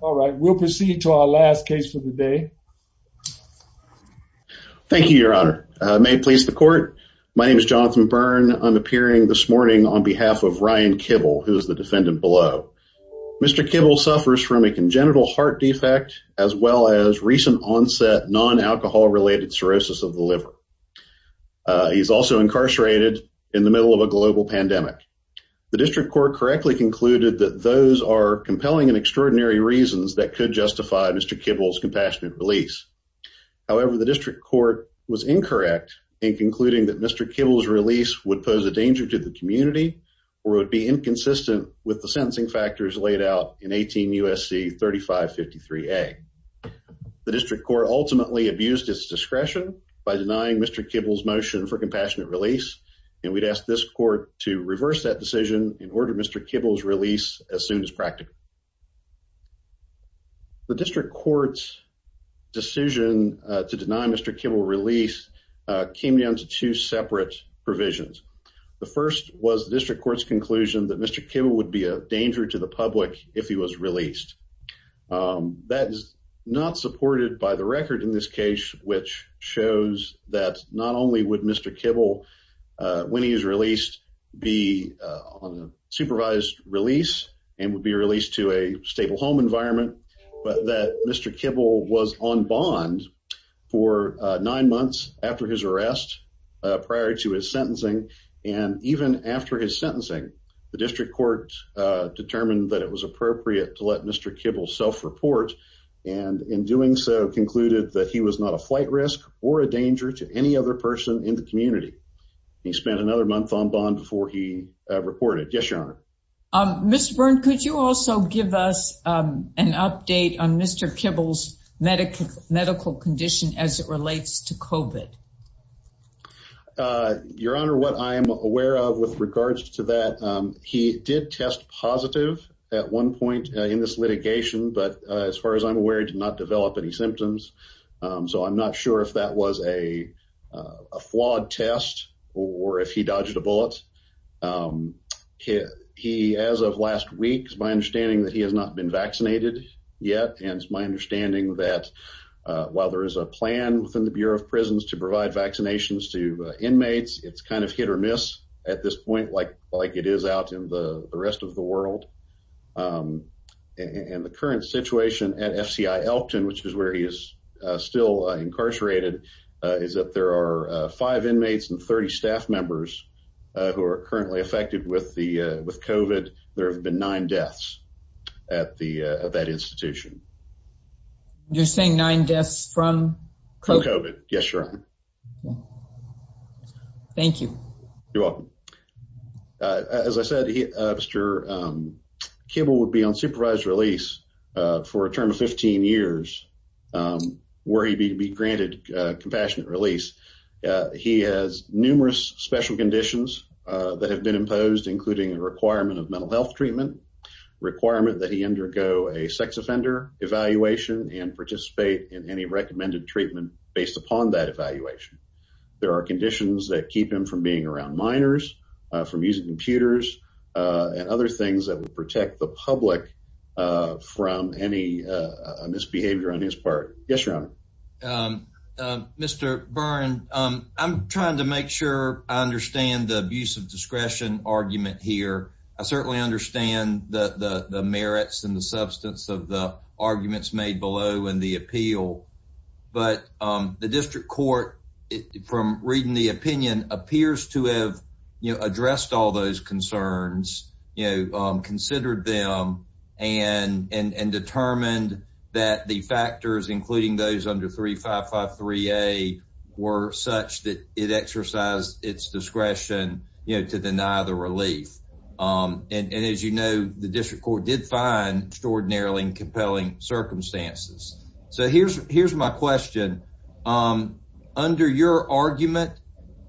All right, we'll proceed to our last case for the day. Thank you, your honor. May it please the court. My name is Jonathan Byrne. I'm appearing this morning on behalf of Ryan Kibble, who is the defendant below. Mr. Kibble suffers from a congenital heart defect as well as recent onset non-alcohol related cirrhosis of the liver. He's also incarcerated in the middle of a global pandemic. The district court correctly concluded that those are compelling and extraordinary reasons that could justify Mr. Kibble's compassionate release. However, the district court was incorrect in concluding that Mr. Kibble's release would pose a danger to the community or would be inconsistent with the sentencing factors laid out in 18 U.S.C. 3553A. The district court ultimately abused its discretion by denying Mr. Kibble's motion for compassionate release, and we'd ask this court to reverse that as soon as practical. The district court's decision to deny Mr. Kibble's release came down to two separate provisions. The first was the district court's conclusion that Mr. Kibble would be a danger to the public if he was released. That is not supported by the record in this case, which shows that not only would Mr. Kibble, when he is released, be on a supervised release and would be released to a stable home environment, but that Mr. Kibble was on bond for nine months after his arrest prior to his sentencing. And even after his sentencing, the district court determined that it was appropriate to let Mr. Kibble self-report, and in doing so concluded that he was not a flight risk or a danger to any other person in the community. He spent another month on bond before he reported. Yes, Your Honor. Mr. Byrne, could you also give us an update on Mr. Kibble's medical condition as it relates to COVID? Your Honor, what I am aware of with regards to that, he did test positive at one point in this litigation, but as far as I'm aware, he did not develop any symptoms. So I'm not sure if that was a flawed test or if he dodged a bullet. As of last week, it's my understanding that he has not been vaccinated yet, and it's my understanding that while there is a plan within the Bureau of Prisons to provide vaccinations to inmates, it's kind of hit or miss at this point like it is out in the rest of the world. And the current situation at FCI Elkton, which is where he is still incarcerated, is that there are five inmates and 30 staff members who are currently affected with COVID. There have been nine deaths at that institution. You're saying nine deaths from COVID? Yes, Your Honor. Thank you. You're welcome. As I said, Mr. Kibble would be on probation for 15 years, where he'd be granted compassionate release. He has numerous special conditions that have been imposed, including a requirement of mental health treatment, requirement that he undergo a sex offender evaluation and participate in any recommended treatment based upon that evaluation. There are conditions that keep him from being around minors, from using computers and other things that would protect the public from any misbehavior on his part. Yes, Your Honor. Mr. Byrne, I'm trying to make sure I understand the abuse of discretion argument here. I certainly understand the merits and the substance of the arguments made below in the appeal. But the district court, from reading the opinion, appears to have addressed all those concerns, considered them, and determined that the factors, including those under 3553A, were such that it exercised its discretion to deny the relief. And as you know, the district court did find extraordinarily compelling circumstances. So here's my question. Under your argument,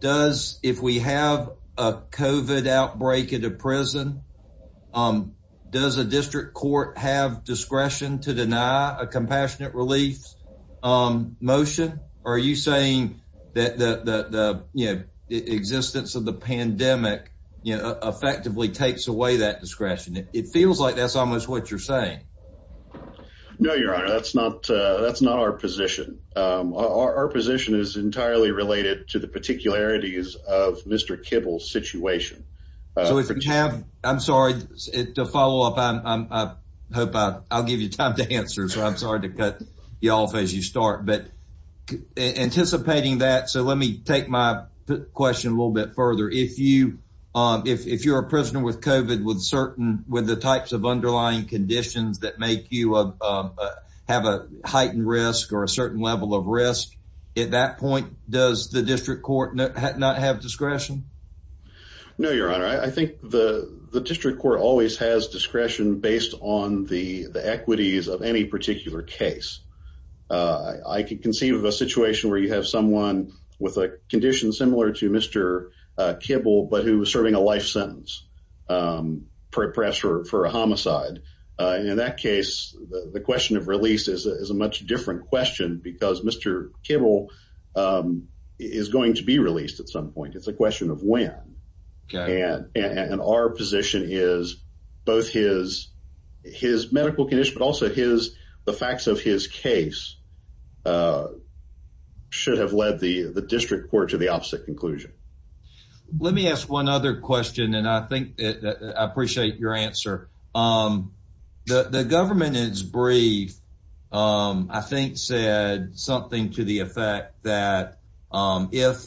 if we have a COVID outbreak at a prison, does a district court have discretion to deny a compassionate relief motion? Or are you saying that the existence of the you're saying? No, Your Honor, that's not our position. Our position is entirely related to the particularities of Mr. Kibble's situation. I'm sorry to follow up. I hope I'll give you time to answer. So I'm sorry to cut you off as you start. But anticipating that, so let me take my question a little bit further. If you're a prisoner with COVID with the types of underlying conditions that make you have a heightened risk or a certain level of risk, at that point, does the district court not have discretion? No, Your Honor. I think the district court always has discretion based on the equities of any particular case. I can conceive of a situation where you Mr. Kibble, but who was serving a life sentence for a homicide. And in that case, the question of release is a much different question because Mr. Kibble is going to be released at some point. It's a question of when. And our position is both his medical condition, the facts of his case should have led the district court to the opposite conclusion. Let me ask one other question. And I think I appreciate your answer. The government is brief. I think said something to the effect that if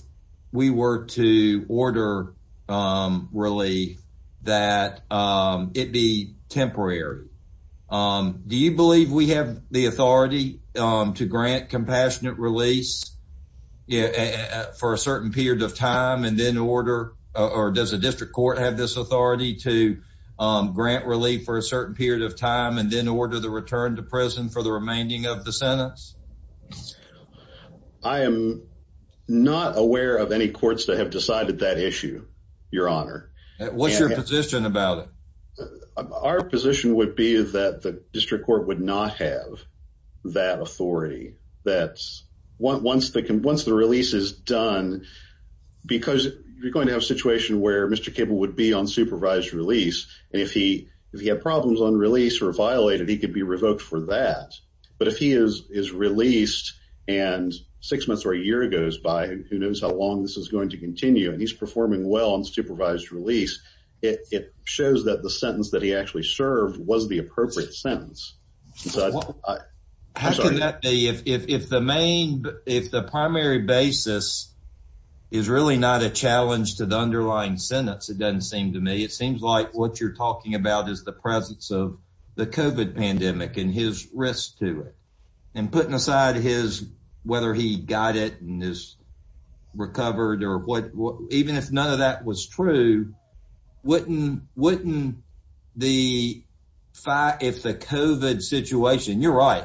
we were to order, really, that it be temporary. Do you believe we have the authority to grant compassionate release for a certain period of time and then order? Or does the district court have this authority to grant relief for a certain period of time and then order the return to prison for the remaining of the sentence? I am not aware of any courts that have decided that issue, Your Honor. What's your position about it? Our position would be that the district court would not have that authority. Once the release is done, because you're going to have a situation where Mr. Kibble would be on supervised release. And if he had problems on release or violated, he could be revoked for that. But if he is released and six months or a year goes by, who knows how long this is going to continue, and he's performing well on supervised release, it shows that the sentence that he actually served was the appropriate sentence. If the primary basis is really not a challenge to the underlying sentence, it doesn't seem to me. It seems like what you're talking about is the presence of the COVID pandemic and his risk to it whether he got it and is recovered. Even if none of that was true, wouldn't the COVID situation, you're right,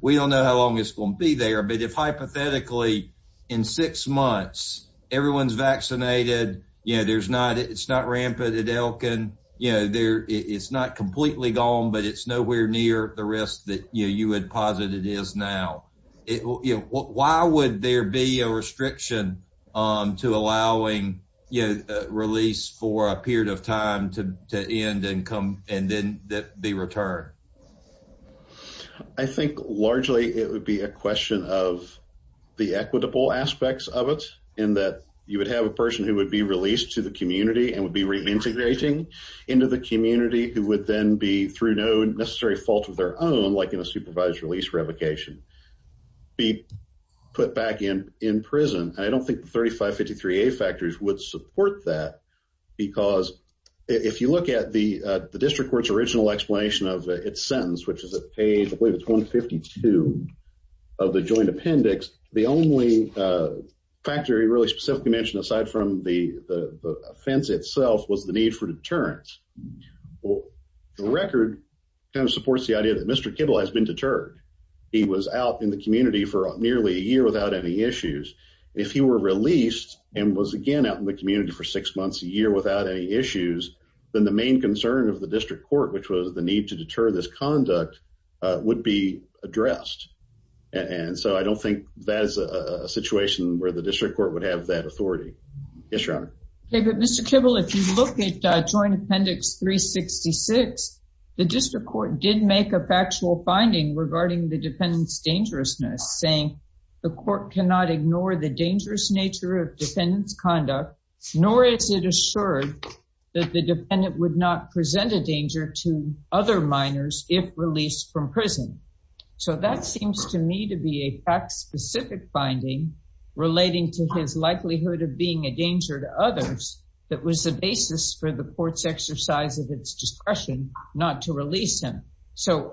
we don't know how long it's going to be there. But if hypothetically, in six months, everyone's vaccinated, it's not rampant at Elkin, it's not completely gone, it's nowhere near the risk that you would posit it is now. Why would there be a restriction to allowing release for a period of time to end and then be returned? I think largely it would be a question of the equitable aspects of it, in that you would have a person who would be released to the community and would be reintegrating into the community, who would then be, through no necessary fault of their own, like in a supervised release revocation, be put back in prison. I don't think the 3553A factors would support that because if you look at the district court's original explanation of its sentence, which is at page 152 of the joint appendix, the only factor he really specifically mentioned, aside from the offense itself, was the need for deterrence. The record supports the idea that Mr. Kibble has been deterred. He was out in the community for nearly a year without any issues. If he were released and was again out in the community for six months a year without any issues, then the main concern of the district court, which was the need to deter this conduct, would be addressed. And so I don't think that is a situation where the district court would have that authority. Yes, Your Honor. Okay, but Mr. Kibble, if you look at joint appendix 366, the district court did make a factual finding regarding the defendant's dangerousness, saying the court cannot ignore the dangerous nature of defendant's conduct, nor is it assured that the defendant would not present a danger to other minors if released from prison. So that seems to me to be a fact-specific finding relating to his likelihood of being a danger to others that was the basis for the court's exercise of its discretion not to release him. So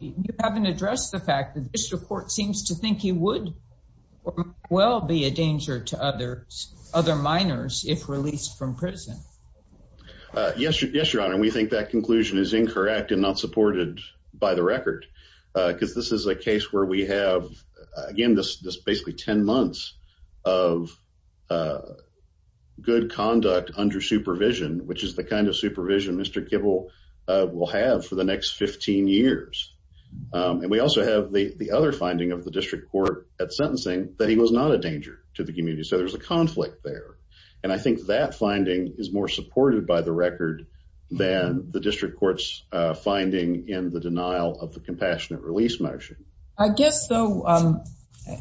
you haven't addressed the fact that the district court seems to think he would well be a danger to other minors if released from prison. Yes, Your Honor. We think that conclusion is incorrect and not supported by the record because this is a case where we have, again, this basically 10 months of good conduct under supervision, which is the kind of supervision Mr. Kibble will have for the next 15 years. And we also have the other finding of the district court at sentencing that he was not a danger to the community. So there's a conflict there. And I think that finding is more supported by the record than the district court's finding in the denial of the compassionate release motion. I guess, though,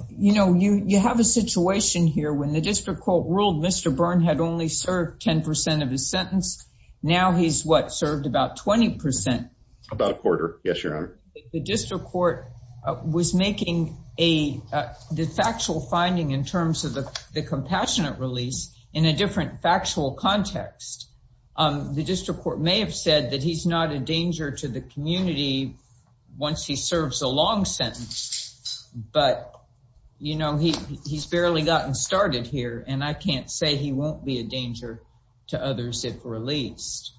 you know, you have a situation here when the district court ruled Mr. Byrne had only served 10 percent of his sentence. Now he's, what, served about 20 percent? About a quarter, yes, Your Honor. The district court was making the factual finding in terms of the compassionate release in a different factual context. The district court may have said that he's not a danger to the community once he serves a long sentence. But, you know, he's barely gotten started here, and I can't say he won't be a danger to others if released.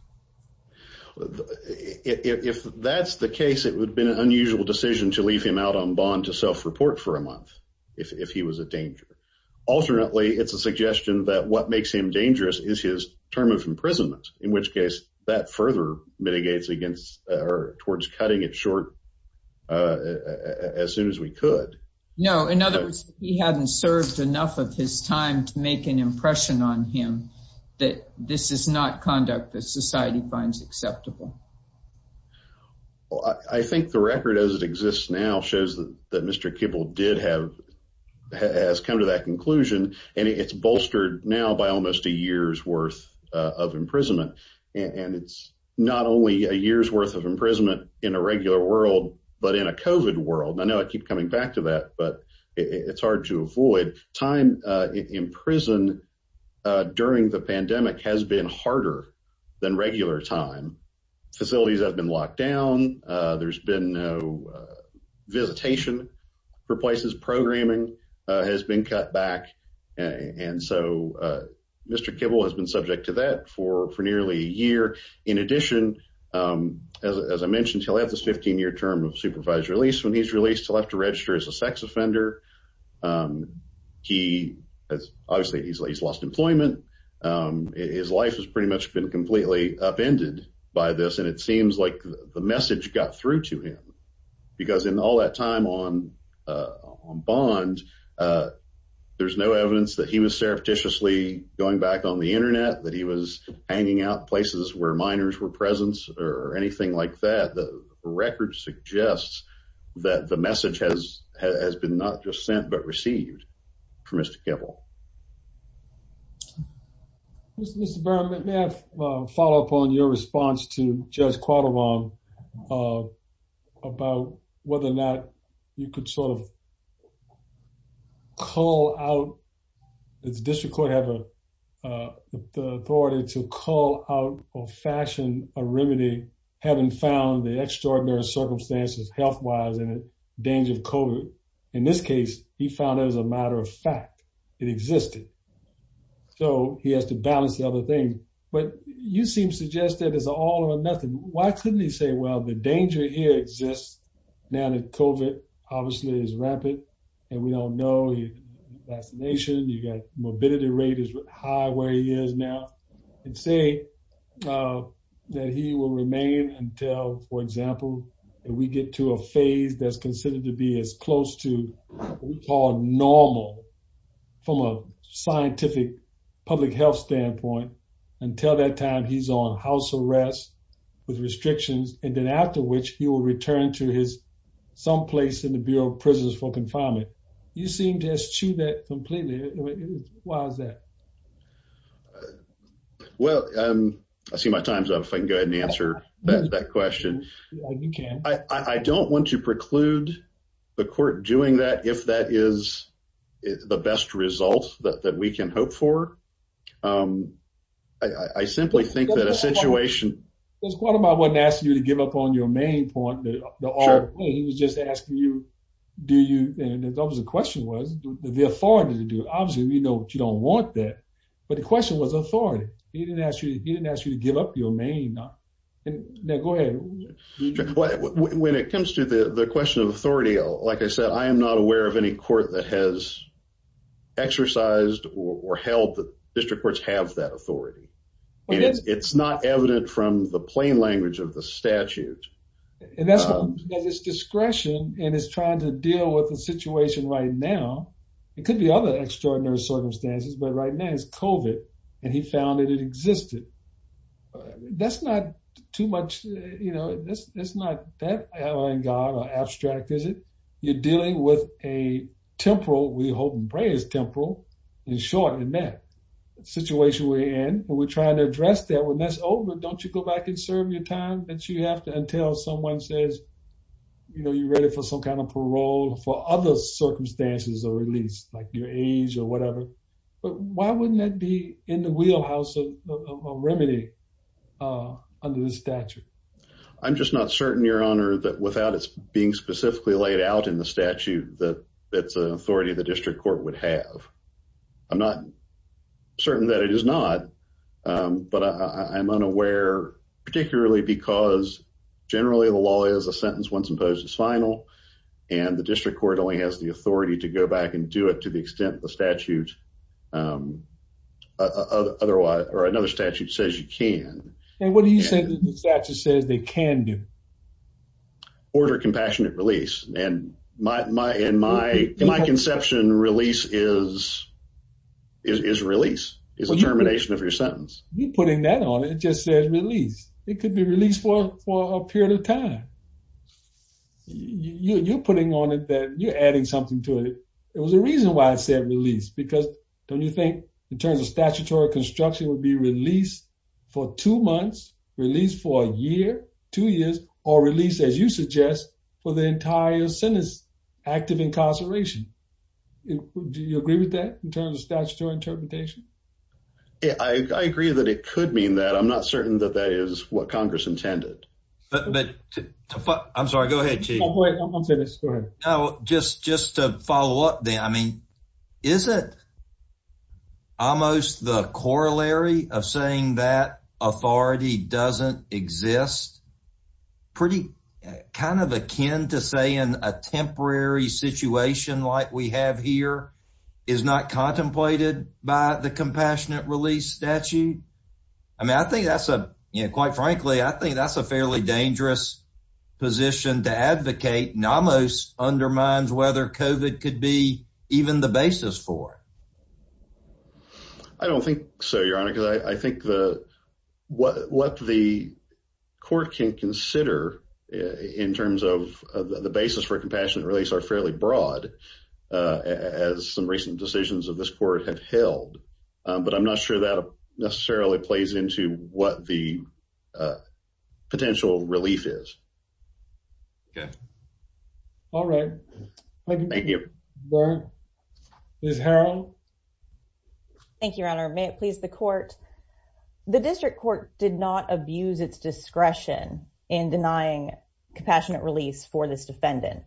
If that's the case, it would have been an unusual decision to leave him out on bond to self-report for a month if he was a danger. Alternately, it's a suggestion that what makes him dangerous is his term of imprisonment, in which case that further mitigates against or towards cutting it short as soon as we could. No, in other words, he hadn't served enough of his time to make an impression on him that this is not conduct that society finds acceptable. Well, I think the record as it exists now shows that Mr. Kibble did have, has come to that conclusion, and it's bolstered now by almost a year's worth of imprisonment. And it's not only a year's worth of imprisonment in a regular world, but in a COVID world. I know I keep coming back to that, but it's hard to avoid. Time in prison during the pandemic has been harder than regular time. Facilities have been locked down. There's been no visitation for places. Programming has been cut back, and so Mr. Kibble has been subject to that for nearly a year. In addition, as I mentioned, he'll have this 15-year term of supervised release. When he's released, he'll have to register as a sex offender. He has, obviously, he's lost employment. His life has pretty much been upended by this, and it seems like the message got through to him. Because in all that time on Bond, there's no evidence that he was surreptitiously going back on the internet, that he was hanging out places where minors were present, or anything like that. The record suggests that the message has been not just sent, but received from Mr. Kibble. Mr. Byrne, may I follow up on your response to Judge Quattlebaum about whether or not you could sort of call out, does the district court have the authority to call out or fashion a remedy, having found the extraordinary circumstances health-wise and the danger of COVID? In this case, he found as a matter of fact, it existed. So, he has to balance the other thing. But you seem to suggest that it's all or nothing. Why couldn't he say, well, the danger here exists now that COVID, obviously, is rampant, and we don't know, vaccination, you got morbidity rate is high where he is now, and say that he will remain until, for example, if we get to a phase that's close to what we call normal, from a scientific public health standpoint, until that time he's on house arrest with restrictions, and then after which he will return to his someplace in the Bureau of Prisons for confinement. You seem to eschew that completely. Why is that? Well, I see my time's up. If I can go ahead and answer that question. You can. I don't want to preclude the court doing that if that is the best result that we can hope for. I simply think that a situation... Mr. Quartermile wasn't asking you to give up on your main point. He was just asking you, do you, the question was, the authority to do it. Obviously, we know that you don't want that, but the question was authority. He didn't ask you to give up your main. Now, go ahead. When it comes to the question of authority, like I said, I am not aware of any court that has exercised or held that district courts have that authority. It's not evident from the plain language of the statute. That's because it's discretion, and it's trying to deal with the situation right now. It could be other extraordinary circumstances, but right now it's COVID, and he found that it or abstract, is it? You're dealing with a temporal, we hope and pray it's temporal, in short, in that situation we're in. When we're trying to address that, when that's over, don't you go back and serve your time that you have to until someone says, you're ready for some kind of parole for other circumstances or at least like your age or whatever, but why wouldn't that be in the wheelhouse of remedy under the statute? I'm just not certain, your honor, that without it being specifically laid out in the statute, that that's an authority the district court would have. I'm not certain that it is not, but I'm unaware, particularly because generally the law is a sentence once imposed is final, and the district court only has the authority to go back and do it to the extent the statute or another statute says you can. And what do you say the statute says they can do? Order compassionate release, and in my conception, release is release, is a termination of your sentence. You're putting that on it, it just says release. It could be released for a period of time. You're putting on it that, you're adding something to it. There was a reason why it said release, because don't you think in terms of statutory construction would be released for two months, released for a year, two years, or released as you suggest for the entire sentence, active incarceration. Do you agree with that in terms of statutory interpretation? Yeah, I agree that it could mean that. I'm not certain that that is what Congress intended. I'm sorry, go ahead, Chief. No, just to follow up there, I mean, isn't almost the corollary of saying that authority doesn't exist pretty kind of akin to saying a temporary situation like we have here is not contemplated by the compassionate release statute? I mean, I think that's a, you know, quite frankly, I think that's a fairly dangerous position to advocate and almost undermines whether COVID could be even the basis for. I don't think so, Your Honor, because I think what the court can consider in terms of the basis for compassionate release are fairly broad, as some recent decisions of this court have held, but I'm not sure that necessarily plays into what the potential relief is. All right. Thank you. Ms. Harrell. Thank you, Your Honor. May it please the court. The district court did not abuse its discretion in denying compassionate release for this defendant.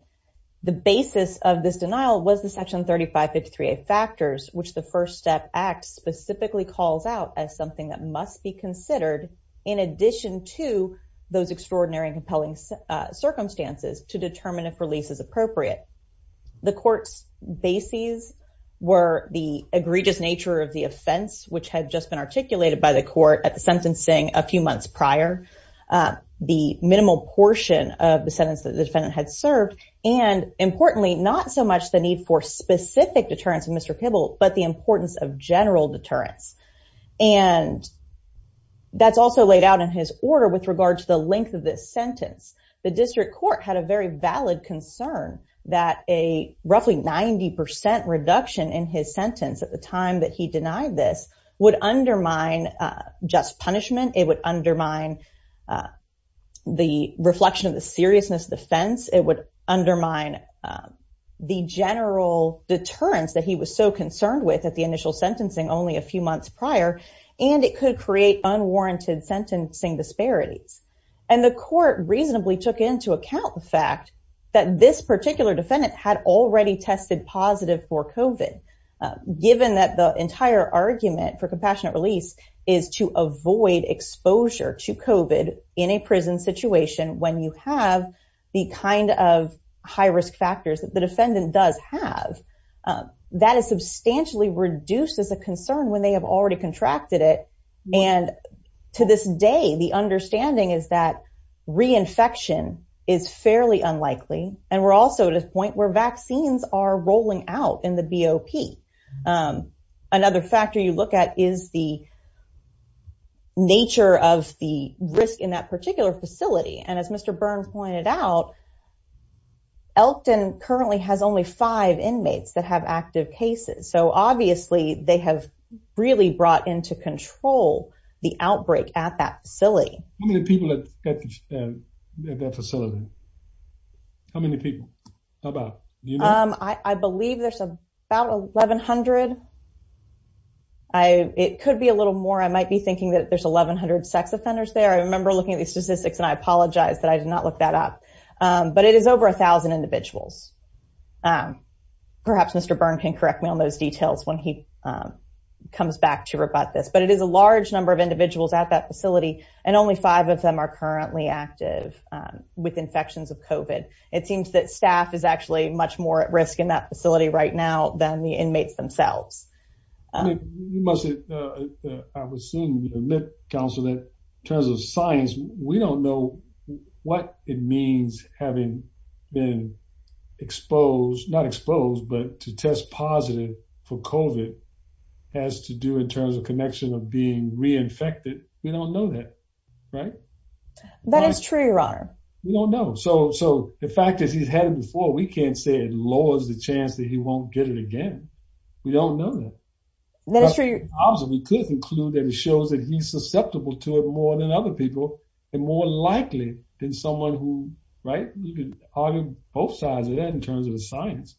The basis of this denial was the Section 3553A factors, which the First Step Act specifically calls out as something that must be considered in addition to those extraordinary and compelling circumstances to determine if release is appropriate. The court's bases were the egregious nature of the offense, which had just been articulated by the court at the sentencing a few months prior, the minimal portion of the sentence that the defendant had served, and importantly, not so much the need for specific deterrence of Mr. Pibble, but the importance of general deterrence. And that's also laid out in his order with regard to the length of this sentence. The district court had a very valid concern that a roughly 90% reduction in his would undermine the reflection of the seriousness of the offense, it would undermine the general deterrence that he was so concerned with at the initial sentencing only a few months prior, and it could create unwarranted sentencing disparities. And the court reasonably took into account the fact that this particular defendant had already tested positive for COVID, given that the entire argument for compassionate release is to avoid exposure to COVID in a prison situation when you have the kind of high risk factors that the defendant does have. That is substantially reduced as a concern when they have already contracted it. And to this day, the understanding is that reinfection is fairly unlikely. And we're also at a point where vaccines are rolling out in the BOP. Another factor you look at is the nature of the risk in that particular facility. And as Mr. Byrne pointed out, Elkton currently has only five inmates that have active cases. So obviously, they have really brought into control the outbreak at that facility. How many people at that facility? How many people? How about you? I believe there's about 1,100. It could be a little more. I might be thinking that there's 1,100 sex offenders there. I remember looking at the statistics and I apologize that I did not look that up. But it is over 1,000 individuals. Perhaps Mr. Byrne can correct me on those details when he comes back to rebut this. But it is a large number of individuals at that facility, and only five of them are currently active with infections of COVID. It seems that staff is actually much more at risk in that facility right now than the inmates themselves. I would assume that in terms of science, we don't know what it means having been exposed, not exposed, but to test positive for COVID has to do in terms of connection of being reinfected. We don't know that. That is true, Your Honor. We don't know. So the fact that he's had it before, we can't say it lowers the chance that he won't get it again. We don't know that. That is true. Obviously, we could conclude that it shows that he's susceptible to it more than other people, and more likely than someone who, right? We could argue both sides of that in terms of the science.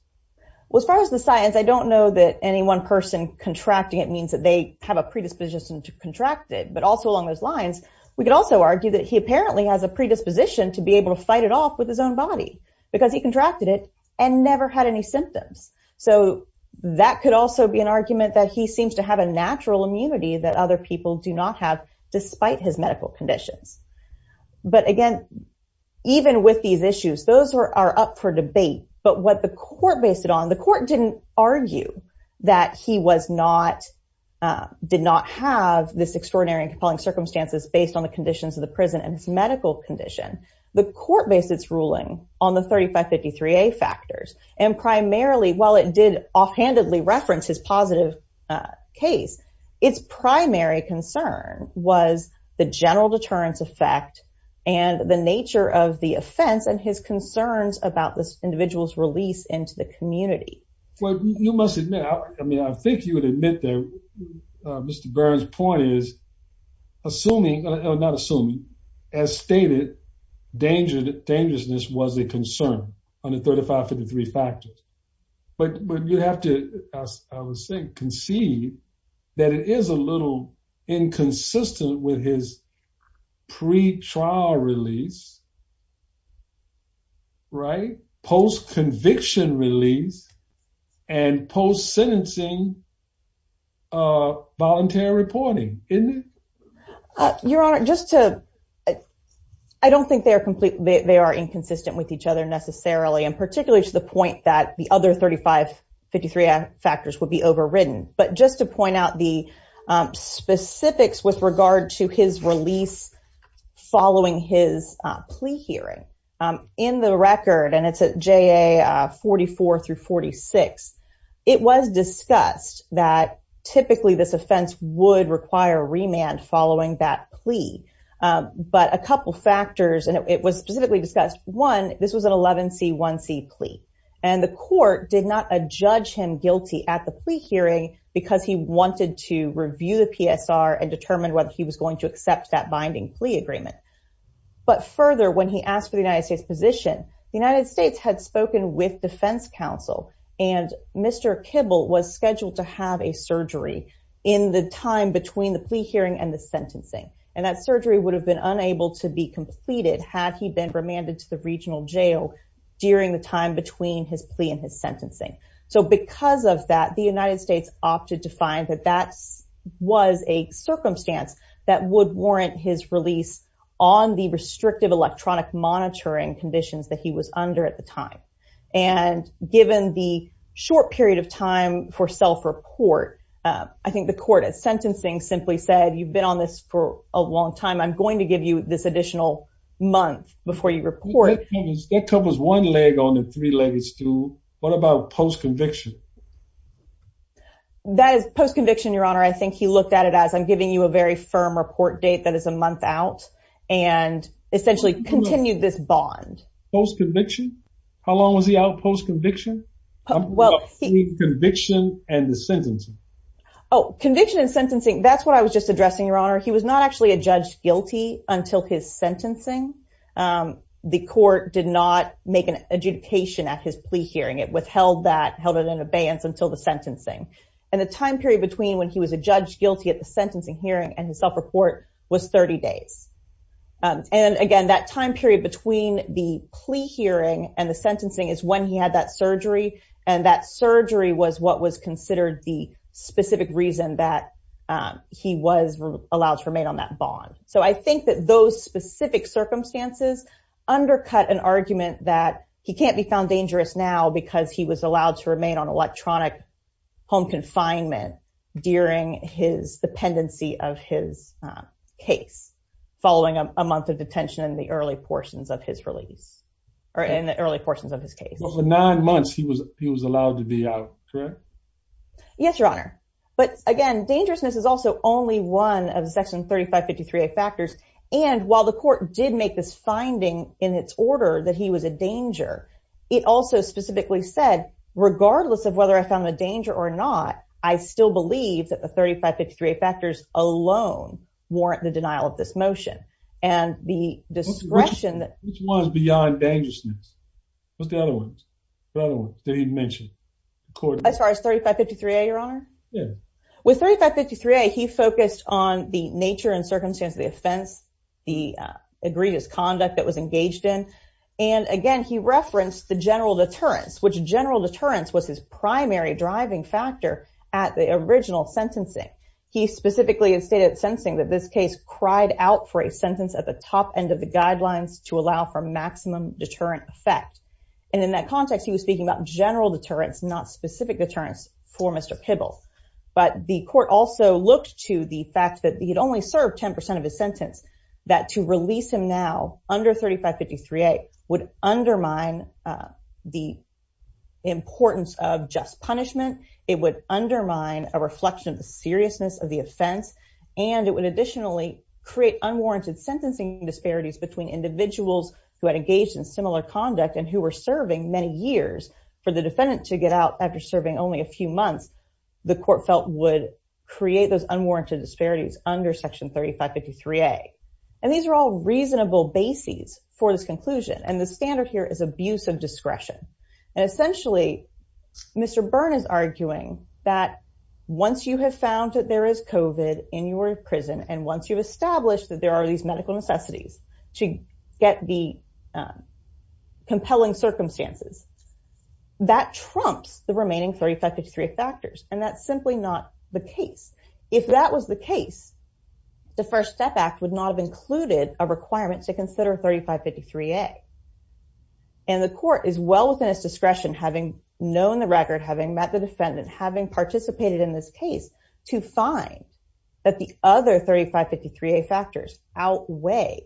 Well, as far as the science, I don't know that any one person contracting it means that they have a predisposition to contract it. But also along those lines, we could also argue that he apparently has a predisposition to be able to fight it off with his own body because he contracted it and never had any symptoms. So that could also be an argument that he seems to have a natural immunity that other people do not have despite his medical conditions. But again, even with these issues, those are up for debate. But what the court based it on, the court didn't argue that he did not have this extraordinary and compelling circumstances based on the conditions of the prison and his medical condition. The court based its ruling on the 3553A factors. And primarily, while it did offhandedly reference his positive case, its primary concern was the general deterrence effect and the nature of the offense and his concerns about this individual's release into the community. Well, you must admit, I mean, I think you would admit that Mr. Burns' point is, assuming, not assuming, as stated, dangerousness was a concern under 3553 factors. But you have to, as I was saying, conceive that it is a little inconsistent with his pre-trial release, right, post-conviction release, and post-sentencing voluntary reporting, isn't it? Your Honor, just to... I don't think they are complete... particularly to the point that the other 3553 factors would be overridden. But just to point out the specifics with regard to his release following his plea hearing, in the record, and it's at JA44 through 46, it was discussed that typically this offense would require remand following that plea. But a couple factors, and it was specifically discussed, one, this was an 11c 1c plea. And the court did not judge him guilty at the plea hearing because he wanted to review the PSR and determine whether he was going to accept that binding plea agreement. But further, when he asked for the United States position, the United States had spoken with defense counsel, and Mr. Kibble was scheduled to have a surgery in the time between the plea hearing and the sentencing. And that surgery would have been unable to be completed had he been remanded to the regional jail during the time between his plea and his sentencing. So because of that, the United States opted to find that that was a circumstance that would warrant his release on the restrictive electronic monitoring conditions that he was under at the time. And given the short period of time for self-report, I think the court at sentencing simply said, you've been on this for a long time. I'm going to give you this additional month before you report. That covers one leg on the three-legged stool. What about post-conviction? That is post-conviction, Your Honor. I think he looked at it as, I'm giving you a very firm report date that is a month out, and essentially continued this bond. Post-conviction? How long was he out post-conviction? Well, he... Conviction and the sentencing. Oh, conviction and sentencing. That's what I was just addressing, Your Honor. He was not actually a judge guilty until his sentencing. The court did not make an adjudication at his plea hearing. It withheld that, held it in abeyance until the sentencing. And the time period between when he was a judge guilty at the sentencing hearing and his self-report was 30 days. And again, that time period between the plea hearing and the sentencing is when he that surgery. And that surgery was what was considered the specific reason that he was allowed to remain on that bond. So I think that those specific circumstances undercut an argument that he can't be found dangerous now because he was allowed to remain on electronic home confinement during his dependency of his case, following a month of detention in the early portions of his release, or in the early portions of his case. For nine months, he was allowed to be out, correct? Yes, Your Honor. But again, dangerousness is also only one of Section 3553A factors. And while the court did make this finding in its order that he was a danger, it also specifically said, regardless of whether I found the danger or not, I still believe that the 3553A factors alone warrant the denial of this motion. And the discretion that... Which one is beyond dangerousness? What's the other one that he mentioned? As far as 3553A, Your Honor? Yeah. With 3553A, he focused on the nature and circumstance of the offense, the egregious conduct that was engaged in. And again, he referenced the general deterrence, which general deterrence was his primary driving factor at the original sentencing. He specifically stated at sentencing that this case cried out for a sentence at the top end of the guidelines to allow for maximum deterrent effect. And in that context, he was speaking about general deterrence, not specific deterrence for Mr. Pibble. But the court also looked to the fact that he had only served 10% of his sentence, that to release him now under 3553A would undermine the importance of just punishment. It would undermine a reflection of the seriousness of the offense. And it would additionally create unwarranted sentencing disparities between individuals who had engaged in similar conduct and who were serving many years. For the defendant to get out after serving only a few months, the court felt would create those unwarranted disparities under Section 3553A. And these are all reasonable bases for this conclusion. And the standard here is abuse of discretion. And essentially, Mr. Byrne is arguing that once you have found that there is COVID in your prison, and once you've established that there are these medical necessities to get the compelling circumstances, that trumps the remaining 3553A factors. And that's simply not the case. If that was the case, the First Step Act would not have included a requirement to consider 3553A. And the court is well within its discretion, having known the record, having met the defendant, having participated in this case, to find that the other 3553A factors outweigh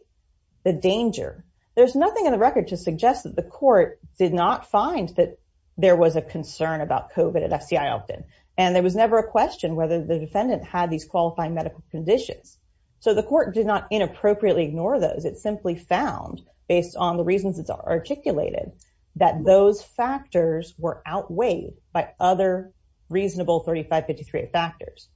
the danger. There's nothing in the record to suggest that the court did not find that there was a concern about COVID at FCI Elkton. And there was never a question whether the defendant had these qualifying medical conditions. So the court did not inappropriately ignore those. It simply found, based on the reasons it's articulated, that those factors were outweighed by other reasonable 3553A factors.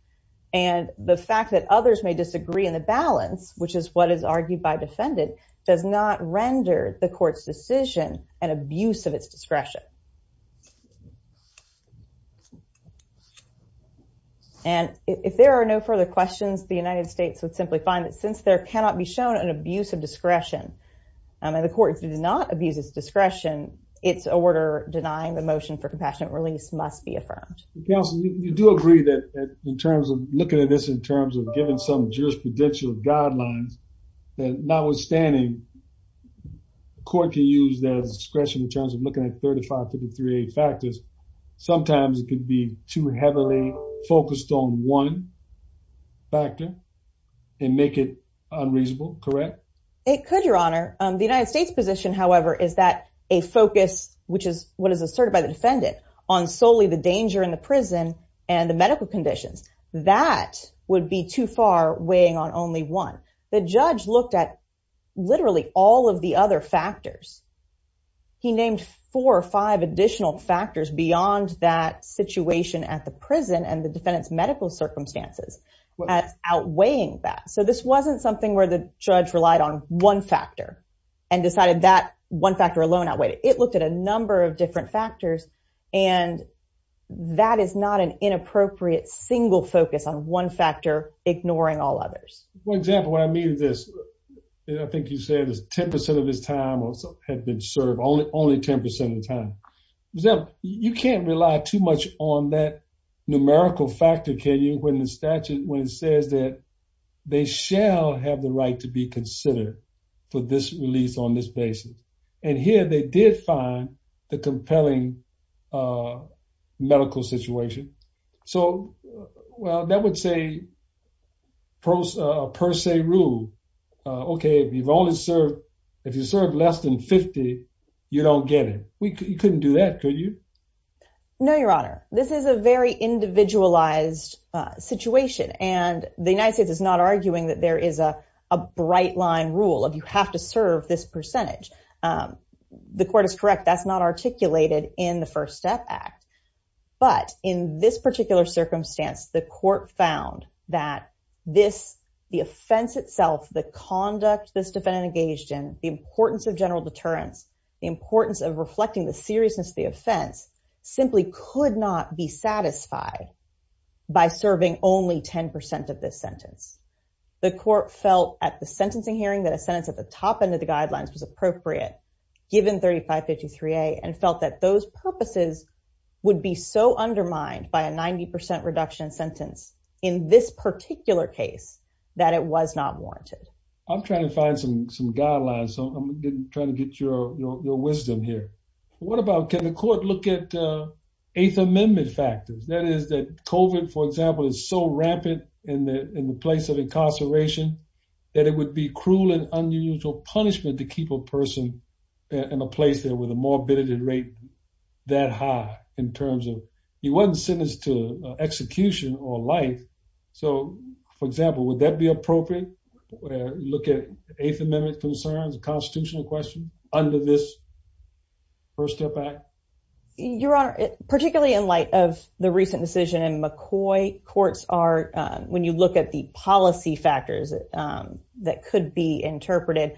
And the fact that others may disagree in the balance, which is what is argued by defendant, does not render the court's decision an abuse of its discretion. And if there are no further questions, the United States would simply find that since there cannot be shown an abuse of discretion, and the court did not abuse its discretion, its order denying the motion for compassionate release must be affirmed. Counsel, you do agree that in terms of looking at this in terms of giving some jurisprudential guidelines, that notwithstanding, the court can use their discretion in terms of looking at 3553A sometimes it could be too heavily focused on one factor and make it unreasonable, correct? It could, Your Honor. The United States position, however, is that a focus, which is what is asserted by the defendant, on solely the danger in the prison and the medical conditions. That would be too far weighing on only one. The judge looked at literally all of the other factors. He named four or five additional factors beyond that situation at the prison and the defendant's medical circumstances as outweighing that. So this wasn't something where the judge relied on one factor and decided that one factor alone outweighed it. It looked at a number of different factors. And that is not an inappropriate single focus on one factor, ignoring all others. For example, what I mean is this. I think you said it was 10% of his time had been served, only 10% of the time. You can't rely too much on that numerical factor, can you, when the statute, when it says that they shall have the right to be considered for this release on this basis. And here they did find the compelling medical situation. So, well, that would say per se rule, okay, if you serve less than 50, you don't get it. You couldn't do that, could you? No, Your Honor. This is a very individualized situation. And the United States is not arguing that there is a bright line rule of you have to serve this percentage. The court is correct. That's not articulated in the First Step Act. But in this particular circumstance, the court found that this, the offense itself, the conduct this defendant engaged in, the importance of general deterrence, the importance of reflecting the seriousness of the offense simply could not be the court felt at the sentencing hearing that a sentence at the top end of the guidelines was appropriate given 3553A and felt that those purposes would be so undermined by a 90% reduction sentence in this particular case that it was not warranted. I'm trying to find some guidelines. So I'm trying to get your wisdom here. What about, can the court look at the Eighth Amendment factors? That is that COVID, for example, is so rampant in the place of incarceration that it would be cruel and unusual punishment to keep a person in a place there with a morbidity rate that high in terms of, he wasn't sentenced to execution or life. So for example, would that be appropriate? Look at Eighth Amendment concerns, a constitutional question under this First Step Act? Your Honor, particularly in light of the recent decision in McCoy, courts are, when you look at the policy factors that could be interpreted,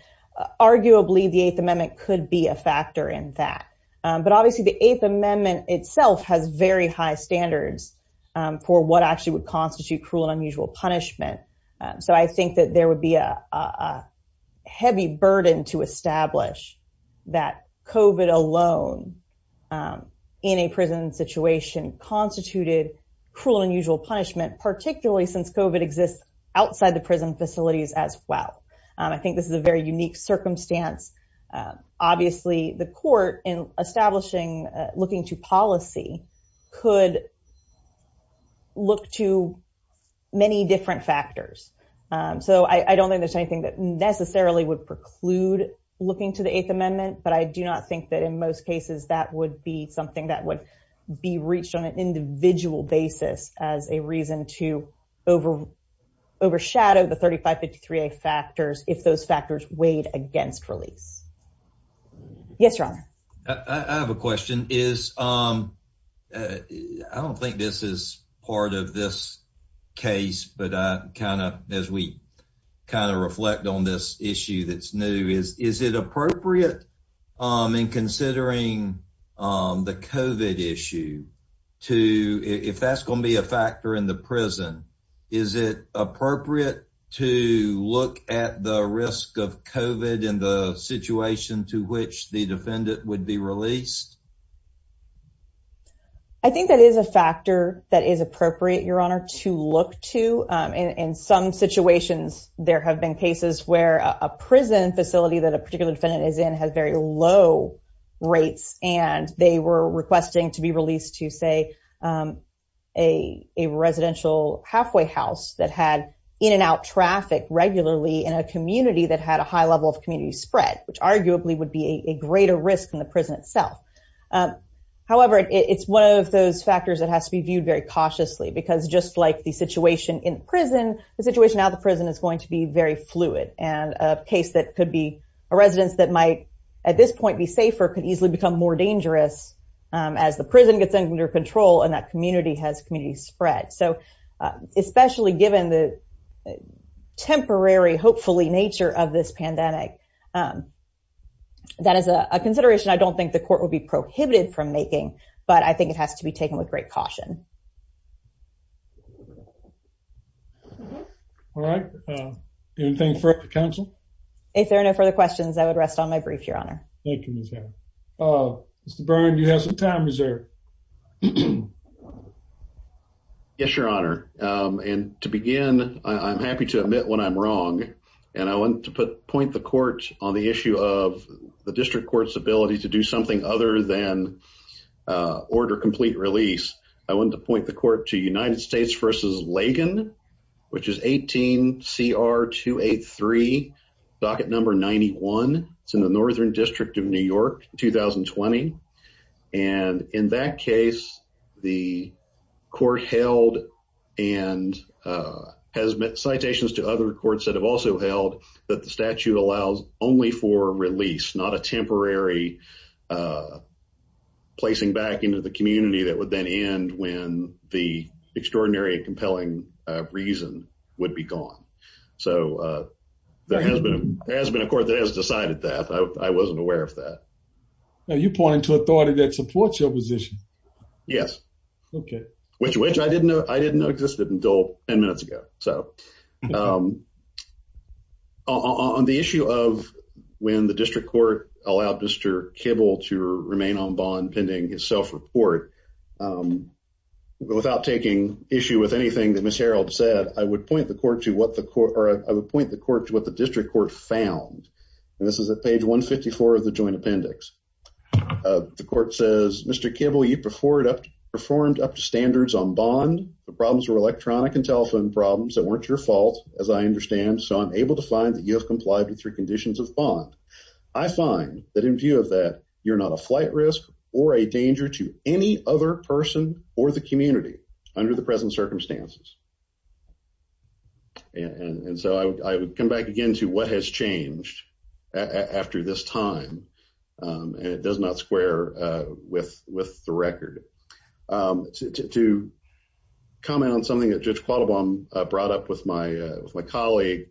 arguably the Eighth Amendment could be a factor in that. But obviously the Eighth Amendment itself has very high standards for what actually would constitute cruel and unusual punishment. So I think that there would be a heavy burden to establish that COVID alone in a prison situation constituted cruel and unusual punishment, particularly since COVID exists outside the prison facilities as well. I think this is a very unique circumstance. Obviously the court in establishing, looking to policy could look to many different factors. So I don't think there's anything that necessarily would preclude looking to the Eighth Amendment, but I do not think that in most cases that would be something that would be reached on an individual basis as a reason to over overshadow the 3553A factors if those factors weighed against release. Yes, Your Honor. I have a question. I don't think this is part of this case, but I kind of, as we kind of reflect on this issue that's new is, is it appropriate in considering the COVID issue to, if that's going to be a factor in the prison, is it appropriate to look at the risk of COVID in the situation to which the defendant would be released? I think that is a factor that is appropriate, Your Honor, to look to. In some situations, there have been cases where a prison facility that a particular defendant is in has very low rates, and they were requesting to be released to, say, a residential halfway house that had in and out traffic regularly in a community that had a high level of community spread, which arguably would be a greater risk than the prison itself. However, it's one of those factors that has to be viewed very cautiously, because just like the situation in prison, the situation out of the prison is going to be very fluid, and a case that could be a residence that might at this point be safer could easily become more dangerous as the prison gets under control and that community has community spread. So, especially given the temporary, hopefully, nature of this pandemic, that is a consideration I don't think the court would be prohibited from making, but I think it has to be taken with great caution. All right. Anything further for counsel? If there are no further questions, I would rest on my brief, Your Honor. Thank you, Ms. Hammond. Mr. Byrne, you have some time reserved. Yes, Your Honor, and to begin, I'm happy to admit when I'm wrong, and I want to point the court on the issue of the district court's ability to do something other than order complete release, I want to point the court to United States v. Lagan, which is 18 CR 283, docket number 91. It's in the Northern District of New York, 2020, and in that case, the court held and has made citations to other courts that have also held that the statute allows only for release, not a temporary placing back into the community that would then end when the extraordinary and compelling reason would be gone. So, there has been a court that has decided that. I wasn't aware of that. Now, you're pointing to authority that supports your position. Yes, which I didn't know existed until 10 minutes ago. So, on the issue of when the district court allowed Mr. Kibble to remain on bond pending his self-report, without taking issue with anything that Ms. Harreld said, I would point the court to what district court found, and this is at page 154 of the joint appendix. The court says, Mr. Kibble, you performed up to standards on bond. The problems were electronic and telephone problems that weren't your fault, as I understand. So, I'm able to find that you have complied with three conditions of bond. I find that in view of that, you're not a flight risk or a danger to any other person or the community under the present circumstances. And so, I would come back again to what has changed after this time, and it does not square with the record. To comment on something that Judge Quattlebaum brought up with my colleague,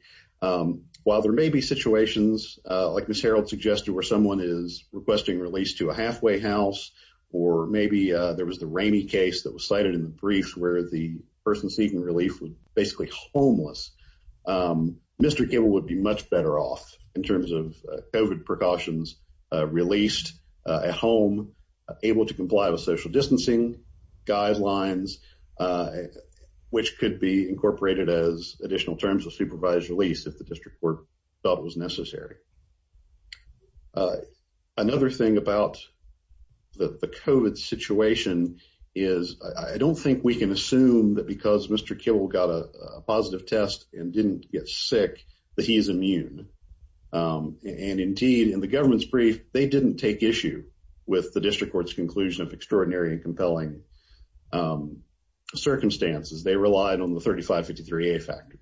while there may be situations like Ms. Harreld suggested where someone is requesting release to a halfway house, or maybe there was the Rainey case that was cited in the brief where the person seeking relief was basically homeless, Mr. Kibble would be much better off in terms of COVID precautions released at home, able to comply with social distancing guidelines, which could be incorporated as additional terms of supervised release if the Another thing about the COVID situation is I don't think we can assume that because Mr. Kibble got a positive test and didn't get sick that he's immune. And indeed, in the government's brief, they didn't take issue with the district court's conclusion of extraordinary and compelling circumstances. They relied on the 3553A factors.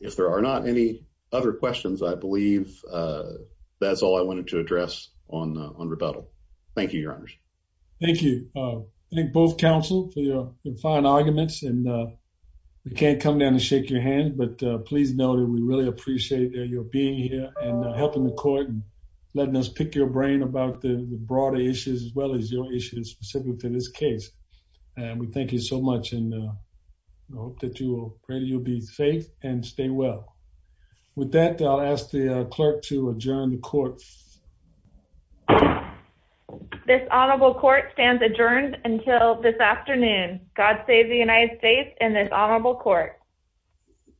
If there are not any other questions, I believe that's all I wanted to address on rebuttal. Thank you, Your Honors. Thank you. I thank both counsel for your fine arguments, and we can't come down and shake your hand, but please know that we really appreciate your being here and helping the court and letting us pick your brain about the broader issues as well as your specific to this case. And we thank you so much and hope that you'll be safe and stay well. With that, I'll ask the clerk to adjourn the court. This honorable court stands adjourned until this afternoon. God save the United States and this honorable court.